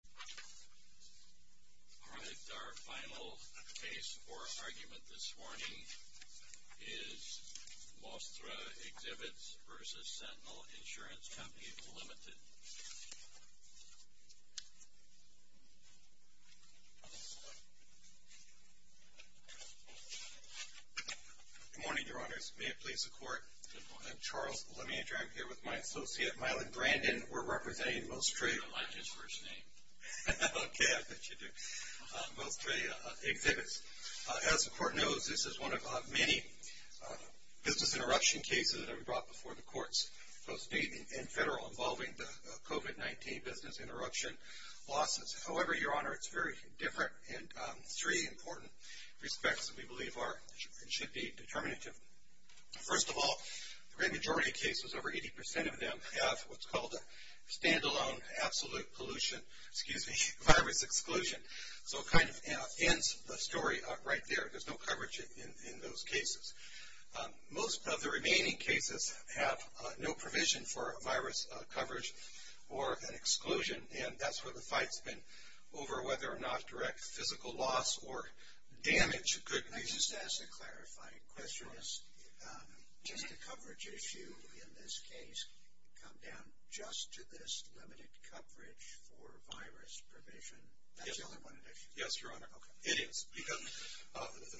Alright, our final case or argument this morning is Mostra Exhibits v. Sentinel Ins. Co., Ltd. Good morning, Your Honors. May it please the Court? Good morning. I'm Charles Leminger. I'm here with my associate, Mylon Brandon. We're representing Mostra. I like his first name. Okay, I bet you do. Mostra Exhibits. As the Court knows, this is one of many business interruption cases that we brought before the courts, both state and federal, involving the COVID-19 business interruption lawsuits. However, Your Honor, it's very different in three important respects that we believe should be determinative. First of all, the great majority of cases, over 80% of them, have what's called a stand-alone absolute pollution, excuse me, virus exclusion. So it kind of ends the story right there. There's no coverage in those cases. Most of the remaining cases have no provision for virus coverage or an exclusion, and that's where the fight's been over whether or not direct physical loss or damage could be... Just to clarify a question, does the coverage issue in this case come down just to this limited coverage for virus provision? Yes. That's the only one addition? Yes, Your Honor. Okay. It is, because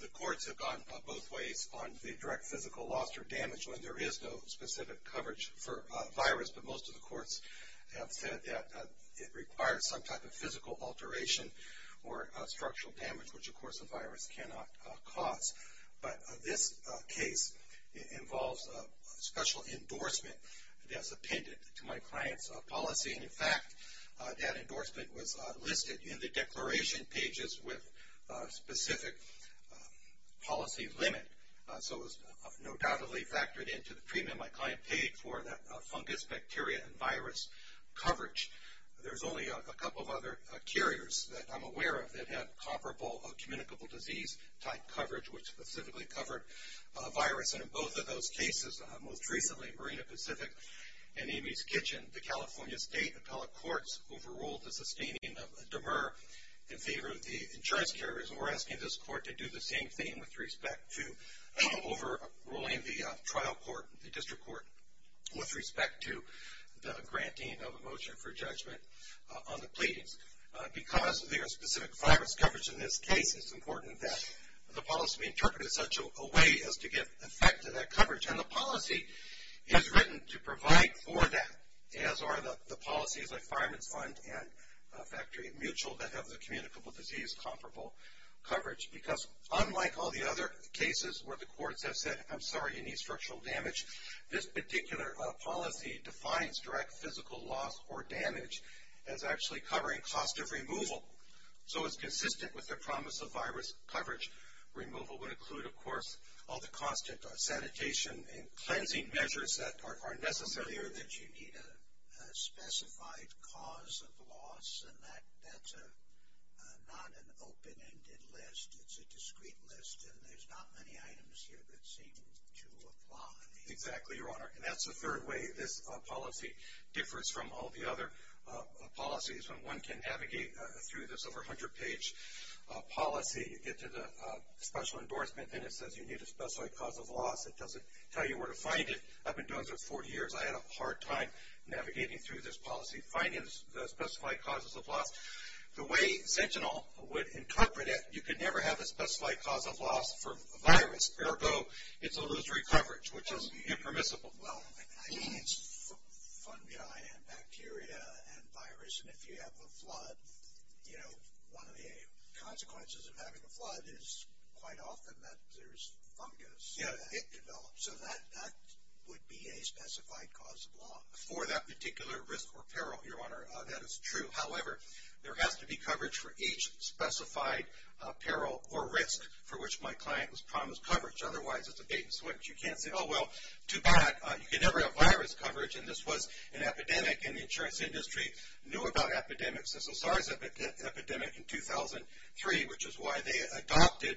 the courts have gone both ways on the direct physical loss or damage. There is no specific coverage for virus, but most of the courts have said that it requires some type of physical alteration or structural damage, which, of course, a virus cannot cause. But this case involves a special endorsement that's appended to my client's policy. And, in fact, that endorsement was listed in the declaration pages with a specific policy limit. So it was undoubtedly factored into the premium my client paid for that fungus, bacteria, and virus coverage. There's only a couple of other carriers that I'm aware of that have comparable communicable disease type coverage, which specifically covered a virus. And in both of those cases, most recently Marina Pacific and Amy's Kitchen, the California State Appellate Courts overruled the sustaining of a demur in favor of the insurance carriers. And we're asking this court to do the same thing with respect to overruling the trial court, the district court, with respect to the granting of a motion for judgment on the pleadings. Because there is specific virus coverage in this case, it's important that the policy be interpreted in such a way as to give effect to that coverage. And the policy is written to provide for that, as are the policies like Fireman's Fund and Factory Mutual that have the communicable disease comparable coverage. Because unlike all the other cases where the courts have said, I'm sorry, you need structural damage, this particular policy defines direct physical loss or damage as actually covering cost of removal. So, it's consistent with the promise of virus coverage. Removal would include, of course, all the cost of sanitation and cleansing measures that are necessary. It's clear that you need a specified cause of loss, and that's not an open-ended list. It's a discrete list, and there's not many items here that seem to apply. Exactly, Your Honor. And that's the third way this policy differs from all the other policies. When one can navigate through this over 100-page policy, you get to the special endorsement, and it says you need a specified cause of loss. It doesn't tell you where to find it. I've been doing this for 40 years. I had a hard time navigating through this policy, finding the specified causes of loss. The way Sentinel would incorporate it, you could never have a specified cause of loss for a virus. Ergo, it's illusory coverage, which is impermissible. Well, I mean, it's fungi and bacteria and virus, and if you have a flood, you know, one of the consequences of having a flood is quite often that there's fungus. Yeah. So that would be a specified cause of loss. For that particular risk or peril, Your Honor, that is true. However, there has to be coverage for each specified peril or risk for which my client was promised coverage. Otherwise, it's a date and switch. You can't say, oh, well, too bad. You can never have virus coverage, and this was an epidemic, and the insurance industry knew about epidemics as a SARS epidemic in 2003, which is why they adopted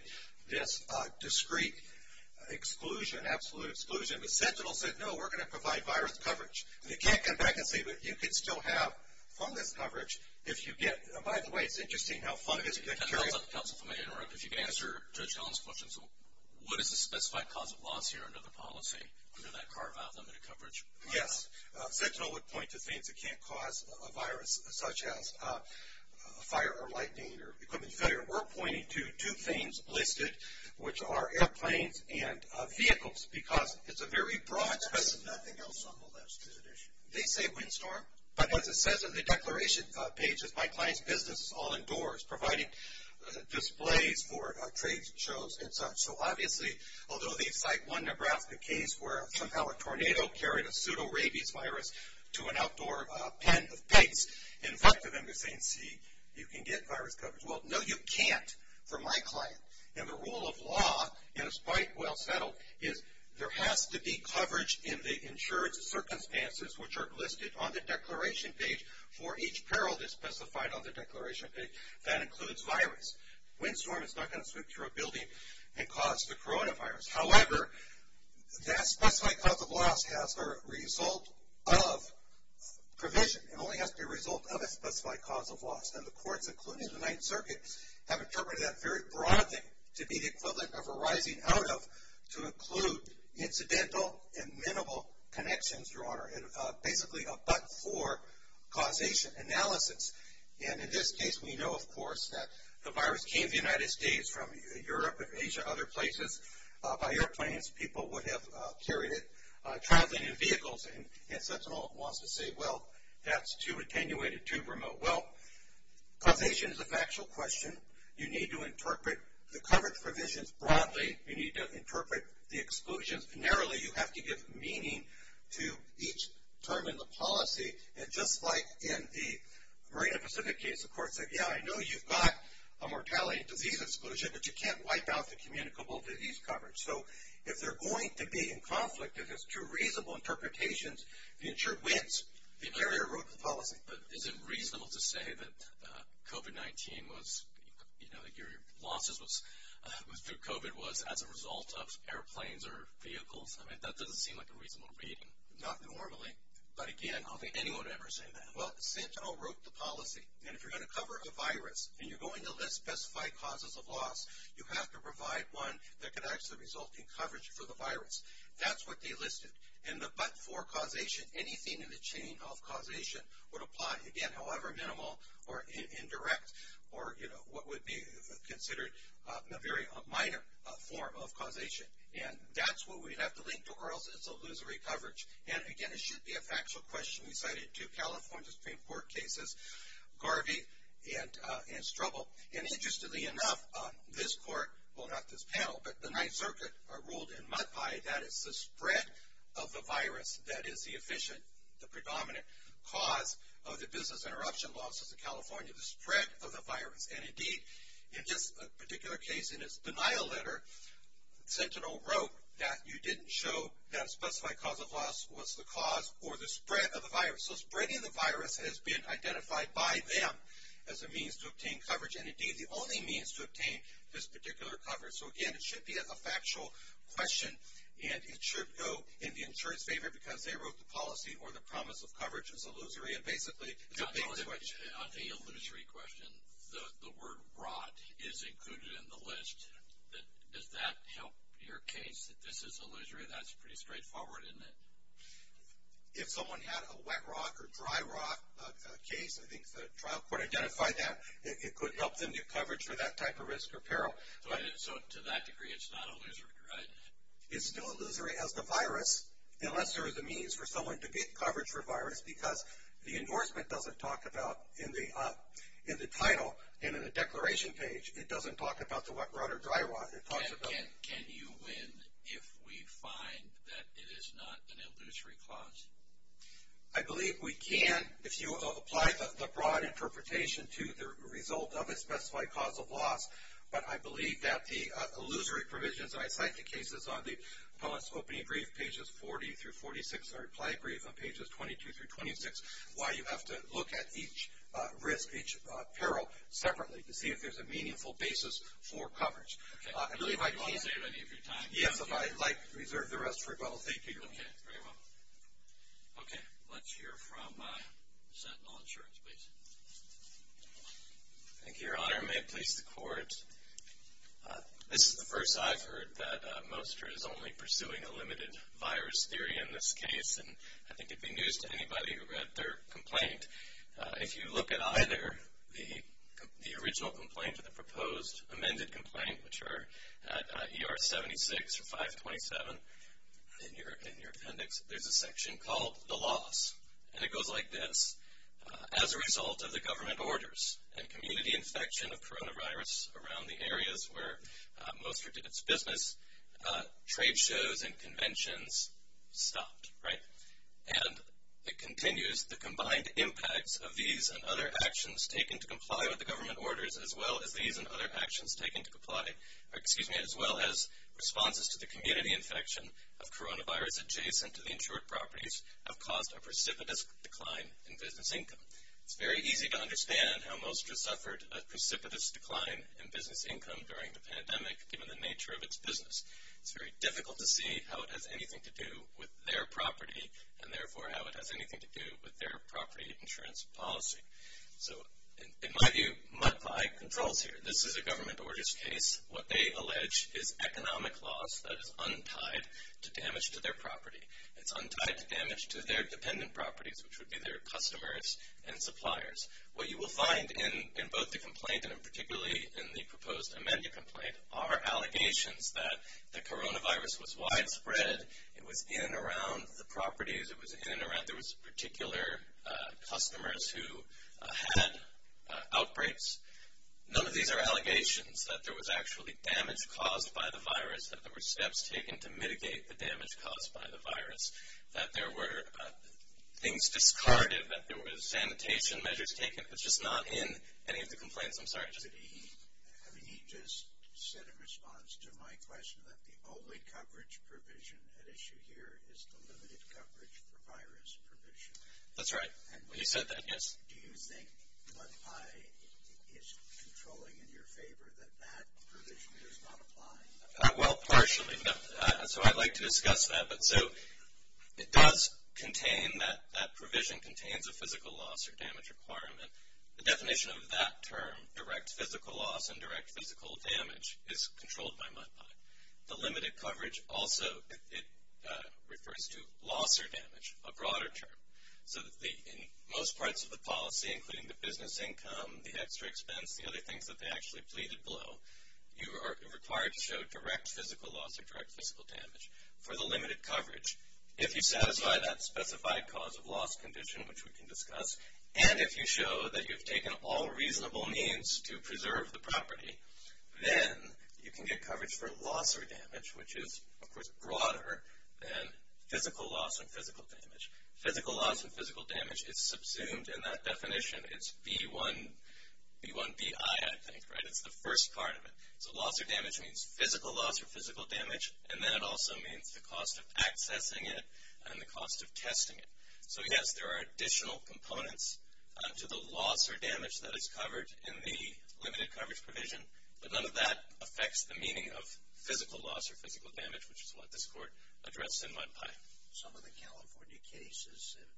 this discrete exclusion, absolute exclusion. But Sentinel said, no, we're going to provide virus coverage. You can't come back and say, but you can still have fungus coverage if you get – by the way, it's interesting how fungus bacteria – Can I interrupt? If you can answer Judge Collins' question, so what is the specified cause of loss here under the policy, under that carve-out limit of coverage? Yes. We're pointing to two things listed, which are airplanes and vehicles, because it's a very broad – There's nothing else on the list, is it? They say windstorm, but as it says on the declaration page, my client's business is all indoors providing displays for trade shows and such. So obviously, although they cite one Nebraska case where somehow a tornado carried a pseudo rabies virus to an outdoor pen of pigs, and invited them to say, see, you can get virus coverage. Well, no, you can't for my client. And the rule of law, and it's quite well settled, is there has to be coverage in the insured circumstances, which are listed on the declaration page for each peril that's specified on the declaration page. That includes virus. Windstorm is not going to sweep through a building and cause the coronavirus. However, that specified cause of loss has a result of provision. It only has to be a result of a specified cause of loss. And the courts, including the Ninth Circuit, have interpreted that very broadly to be the equivalent of a rising out of to include incidental and minimal connections, Your Honor, and basically a but-for causation analysis. And in this case, we know, of course, that the virus came to the United States from Europe and Asia, other places, by airplanes. People would have carried it traveling in vehicles. And Sentinel wants to say, well, that's too attenuated, too remote. Well, causation is a factual question. You need to interpret the coverage provisions broadly. You need to interpret the exclusions. Narrowly, you have to give meaning to each term in the policy. And just like in the Marina Pacific case, the court said, yeah, I know you've got a mortality and disease exclusion, but you can't wipe out the communicable disease coverage. So if they're going to be in conflict, if there's two reasonable interpretations, the insured wins. The carrier wrote the policy. But is it reasonable to say that COVID-19 was, you know, that your losses through COVID was as a result of airplanes or vehicles? I mean, that doesn't seem like a reasonable reading. Not normally. But, again, I don't think anyone would ever say that. Well, Sentinel wrote the policy. And if you're going to cover a virus and you're going to list specified causes of loss, you have to provide one that can actually result in coverage for the virus. That's what they listed. And the but-for causation, anything in the chain of causation, would apply, again, however minimal or indirect, or, you know, what would be considered a very minor form of causation. And that's what we'd have to link to, or else it's illusory coverage. And, again, it should be a factual question. We cited two California Supreme Court cases, Garvey and Strobel. And, interestingly enough, this court, well, not this panel, but the Ninth Circuit, are ruled in mud pie that it's the spread of the virus that is the efficient, the predominant cause of the business interruption losses in California, the spread of the virus. And, indeed, in this particular case, in its denial letter, Sentinel wrote that you didn't show that specified cause of loss was the cause or the spread of the virus. So spreading the virus has been identified by them as a means to obtain coverage, and, indeed, the only means to obtain this particular coverage. So, again, it should be a factual question, and it should go in the insurer's favor because they wrote the policy or the promise of coverage as illusory. And, basically, it's a big switch. On the illusory question, the word rot is included in the list. Does that help your case that this is illusory? That's pretty straightforward, isn't it? If someone had a wet rot or dry rot case, I think the trial court identified that. It could help them get coverage for that type of risk or peril. So, to that degree, it's not illusory, right? It's still illusory as the virus, unless there is a means for someone to get coverage for virus because the endorsement doesn't talk about, in the title and in the declaration page, it doesn't talk about the wet rot or dry rot. Can you win if we find that it is not an illusory clause? I believe we can if you apply the broad interpretation to the result of a specified cause of loss. But I believe that the illusory provisions, and I cite the cases on the Pelliss opening brief, pages 40 through 46, or reply brief on pages 22 through 26, why you have to look at each risk, each peril separately to see if there's a meaningful basis for coverage. Okay. Do you want to save any of your time? Yes, if I might reserve the rest for you. Well, thank you. Okay. Very well. Okay. Let's hear from Sentinel Insurance, please. Thank you, Your Honor. May it please the Court. This is the first I've heard that Mostar is only pursuing a limited virus theory in this case, and I think it would be news to anybody who read their complaint. If you look at either the original complaint or the proposed amended complaint, which are at ER 76 or 527 in your appendix, there's a section called the loss. And it goes like this. As a result of the government orders and community infection of coronavirus around the areas where Mostar did its business, trade shows and conventions stopped, right? And it continues, the combined impacts of these and other actions taken to comply with the government orders, as well as these and other actions taken to comply, excuse me, as well as responses to the community infection of coronavirus adjacent to the insured properties, have caused a precipitous decline in business income. It's very easy to understand how Mostar suffered a precipitous decline in business income during the pandemic, given the nature of its business. It's very difficult to see how it has anything to do with their property, and therefore how it has anything to do with their property insurance policy. So, in my view, muck by controls here. This is a government orders case. What they allege is economic loss that is untied to damage to their property. It's untied to damage to their dependent properties, which would be their customers and suppliers. What you will find in both the complaint and particularly in the proposed amended complaint are allegations that the coronavirus was widespread. It was in and around the properties. It was in and around. There was particular customers who had outbreaks. None of these are allegations that there was actually damage caused by the virus, that there were steps taken to mitigate the damage caused by the virus, that there were things discarded, that there were sanitation measures taken. It's just not in any of the complaints. Yes, I'm sorry. He just said in response to my question that the only coverage provision at issue here is the limited coverage for virus provision. That's right. You said that, yes. Do you think muck by is controlling in your favor that that provision does not apply? Well, partially. So, I'd like to discuss that. So, it does contain that that provision contains a physical loss or damage requirement. The definition of that term, direct physical loss and direct physical damage, is controlled by muck by. The limited coverage also, it refers to loss or damage, a broader term. So, in most parts of the policy, including the business income, the extra expense, the other things that they actually pleaded below, you are required to show direct physical loss or direct physical damage for the limited coverage. If you satisfy that specified cause of loss condition, which we can discuss, and if you show that you've taken all reasonable means to preserve the property, then you can get coverage for loss or damage, which is, of course, broader than physical loss and physical damage. Physical loss and physical damage is subsumed in that definition. It's B1BI, I think, right? It's the first part of it. So, loss or damage means physical loss or physical damage, and then it also means the cost of accessing it and the cost of testing it. So, yes, there are additional components to the loss or damage that is covered in the limited coverage provision, but none of that affects the meaning of physical loss or physical damage, which is what this court addressed in MUDPI. Some of the California cases have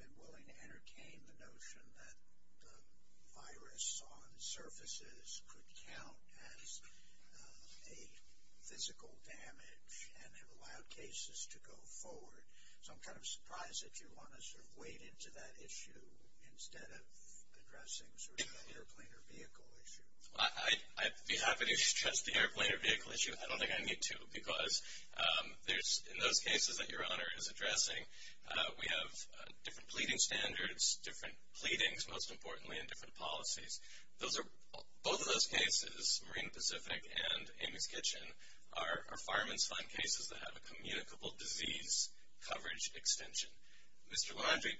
been willing to entertain the notion that the virus on surfaces could count as a physical damage and have allowed cases to go forward. So I'm kind of surprised that you want to sort of wade into that issue instead of addressing sort of the airplane or vehicle issue. I'd be happy to address the airplane or vehicle issue. I don't think I need to because in those cases that Your Honor is addressing, we have different pleading standards, different pleadings, most importantly, and different policies. Both of those cases, Marine Pacific and Amy's Kitchen, are fireman's fund cases that have a communicable disease coverage extension. Mr. Landry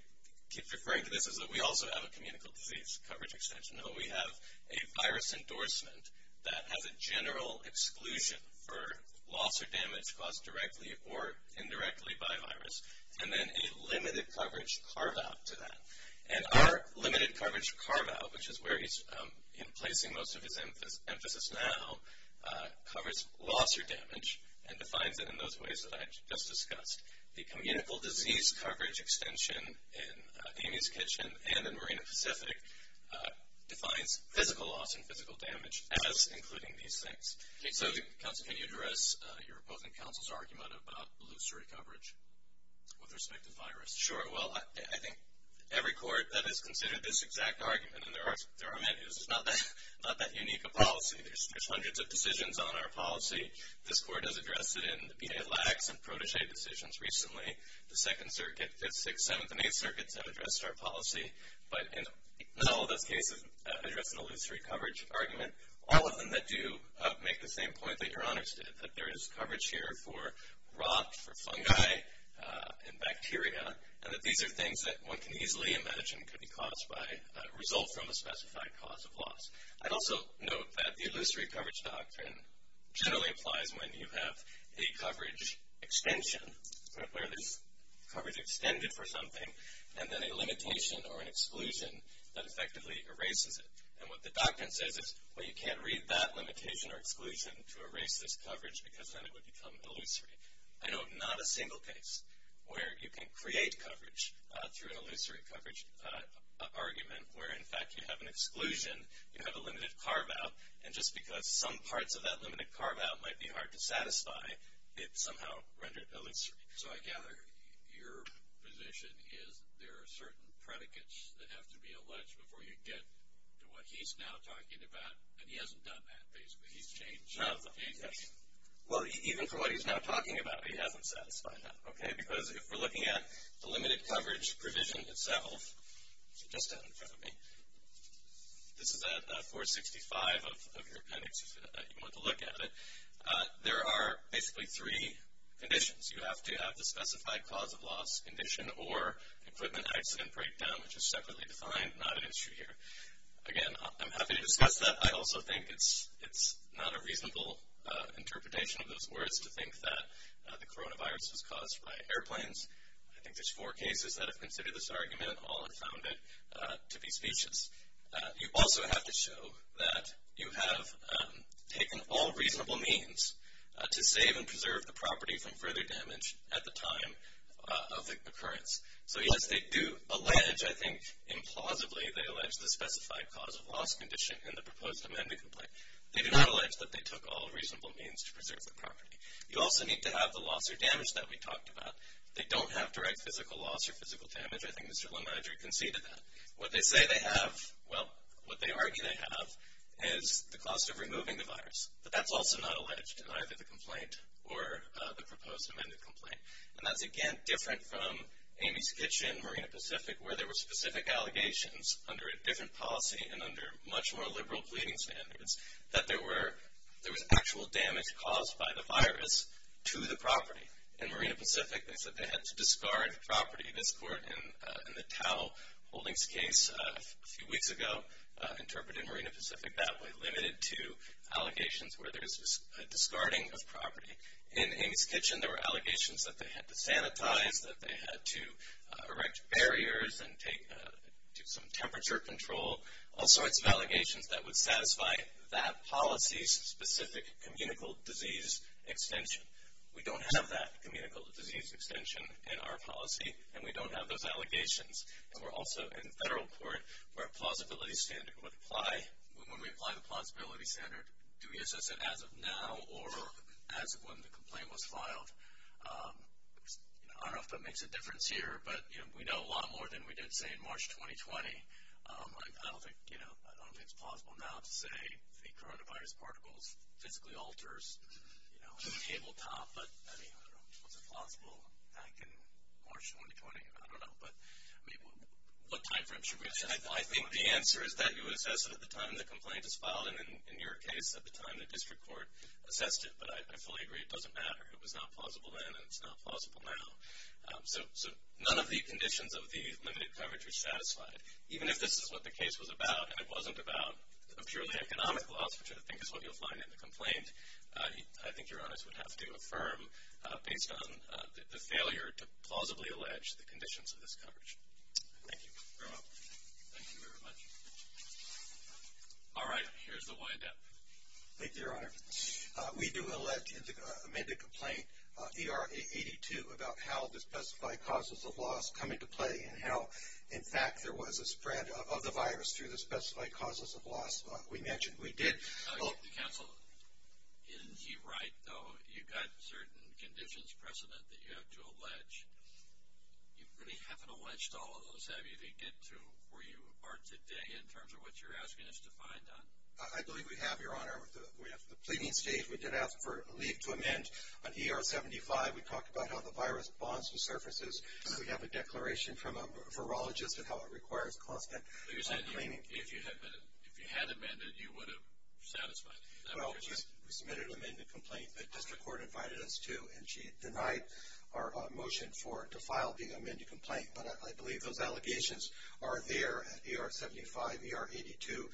keeps referring to this as though we also have a communicable disease coverage extension, but we have a virus endorsement that has a general exclusion for loss or damage caused directly or indirectly by a virus, and then a limited coverage carve-out to that. And our limited coverage carve-out, which is where he's placing most of his emphasis now, covers loss or damage and defines it in those ways that I just discussed. The communicable disease coverage extension in Amy's Kitchen and in Marine Pacific defines physical loss and physical damage as including these things. So, Counsel, can you address your opposing counsel's argument about loose recovery with respect to virus? Sure. Well, I think every court that has considered this exact argument, and there are many, is not that unique a policy. There's hundreds of decisions on our policy. This court has addressed it in the B.A. Lacks and Protege decisions recently. The Second Circuit, the Sixth, Seventh, and Eighth Circuits have addressed our policy. But in all of those cases, address an illusory coverage argument. All of them that do make the same point that your honors did, that there is coverage here for rot, for fungi, and bacteria, and that these are things that one can easily imagine could be caused by a result from a specified cause of loss. I'd also note that the illusory coverage doctrine generally applies when you have a coverage extension, where there's coverage extended for something, and then a limitation or an exclusion that effectively erases it. And what the doctrine says is, well, you can't read that limitation or exclusion to erase this coverage because then it would become illusory. I know of not a single case where you can create coverage through an illusory coverage argument, where, in fact, you have an exclusion, you have a limited carve-out, and just because some parts of that limited carve-out might be hard to satisfy, it somehow rendered illusory. So I gather your position is there are certain predicates that have to be alleged before you get to what he's now talking about, and he hasn't done that, basically. He's changed it. Well, even for what he's now talking about, he hasn't satisfied that, okay? Because if we're looking at the limited coverage provision itself, which is just down in front of me, this is at 465 of your appendix if you want to look at it, there are basically three conditions. You have to have the specified cause of loss condition or equipment accident breakdown, which is separately defined, not an issue here. Again, I'm happy to discuss that. I also think it's not a reasonable interpretation of those words to think that the coronavirus was caused by airplanes. I think there's four cases that have considered this argument. All have found it to be specious. You also have to show that you have taken all reasonable means to save and preserve the property from further damage at the time of the occurrence. So, yes, they do allege, I think implausibly, they allege the specified cause of loss condition in the proposed amended complaint. They do not allege that they took all reasonable means to preserve the property. You also need to have the loss or damage that we talked about. They don't have direct physical loss or physical damage. I think Mr. LeMaire conceded that. What they say they have, well, what they argue they have is the cost of removing the virus. But that's also not alleged in either the complaint or the proposed amended complaint. And that's, again, different from Amy's Kitchen, Marina Pacific, where there were specific allegations under a different policy and under much more liberal pleading standards that there was actual damage caused by the virus to the property. In Marina Pacific, they said they had to discard property. This court, in the Tao Holdings case a few weeks ago, interpreted Marina Pacific that way, limited to allegations where there's a discarding of property. In Amy's Kitchen, there were allegations that they had to sanitize, that they had to erect barriers and do some temperature control, all sorts of allegations that would satisfy that policy's specific communicable disease extension. We don't have that communicable disease extension in our policy, and we don't have those allegations. And we're also in federal court where a plausibility standard would apply. When we apply the plausibility standard, do we assess it as of now or as of when the complaint was filed? I don't know if that makes a difference here, but we know a lot more than we did, say, in March 2020. I don't think it's plausible now to say the coronavirus particles physically alters the tabletop. But, I mean, was it plausible back in March 2020? I don't know. But, I mean, what time frame should we assess it? I think the answer is that you assess it at the time the complaint is filed, and in your case, at the time the district court assessed it. But I fully agree it doesn't matter. It was not plausible then, and it's not plausible now. So none of the conditions of the limited coverage are satisfied. Even if this is what the case was about, and it wasn't about a purely economic loss, which I think is what you'll find in the complaint, I think Your Honors would have to affirm based on the failure to plausibly allege the conditions of this coverage. Thank you. You're welcome. Thank you very much. All right. Here's the wide depth. Thank you, Your Honor. We do elect an amended complaint, ERA 82, about how the specified causes of loss come into play and how, in fact, there was a spread of the virus through the specified causes of loss we mentioned. We did. Counsel, isn't he right, though? You've got certain conditions, precedent, that you have to allege. You really haven't alleged all of those, have you, to get to where you are today in terms of what you're asking us to find on? I believe we have, Your Honor. We have the pleading stage. We did ask for a leave to amend on ER 75. We talked about how the virus bonds with surfaces. We have a declaration from a virologist of how it requires constant cleaning. You said if you had amended, you would have satisfied. Well, we submitted an amended complaint. The district court invited us to, and she denied our motion to file the amended complaint. But I believe those allegations are there at ER 75, ER 82,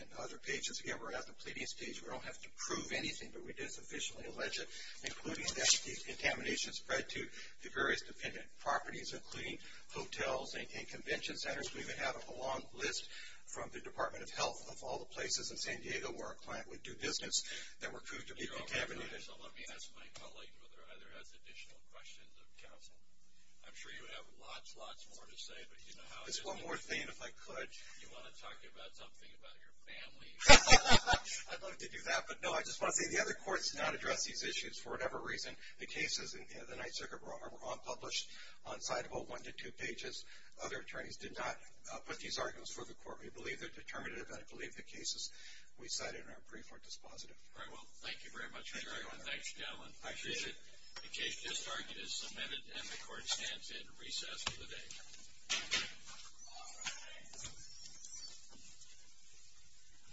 and other pages. Again, we're at the pleading stage. We don't have to prove anything, but we did sufficiently allege it, including that the contamination spread to the various dependent properties, including hotels and convention centers. We even have a long list from the Department of Health of all the places in San Diego where a client would do business that were proved to be contaminated. Your Honor, let me ask my colleague whether or not there are additional questions of counsel. I'm sure you have lots, lots more to say. Just one more thing, if I could. You want to talk about something about your family? I'd love to do that. But, no, I just want to say the other courts did not address these issues. For whatever reason, the cases in the Ninth Circuit were all published on side 1 to 2 pages. Other attorneys did not put these arguments before the court. We believe they're determinative, and I believe the cases we cited in our brief were dispositive. All right. Well, thank you very much, Your Honor. Thanks, Your Honor. Thanks, gentlemen. I appreciate it. The case is submitted, and the court stands in recess for the day.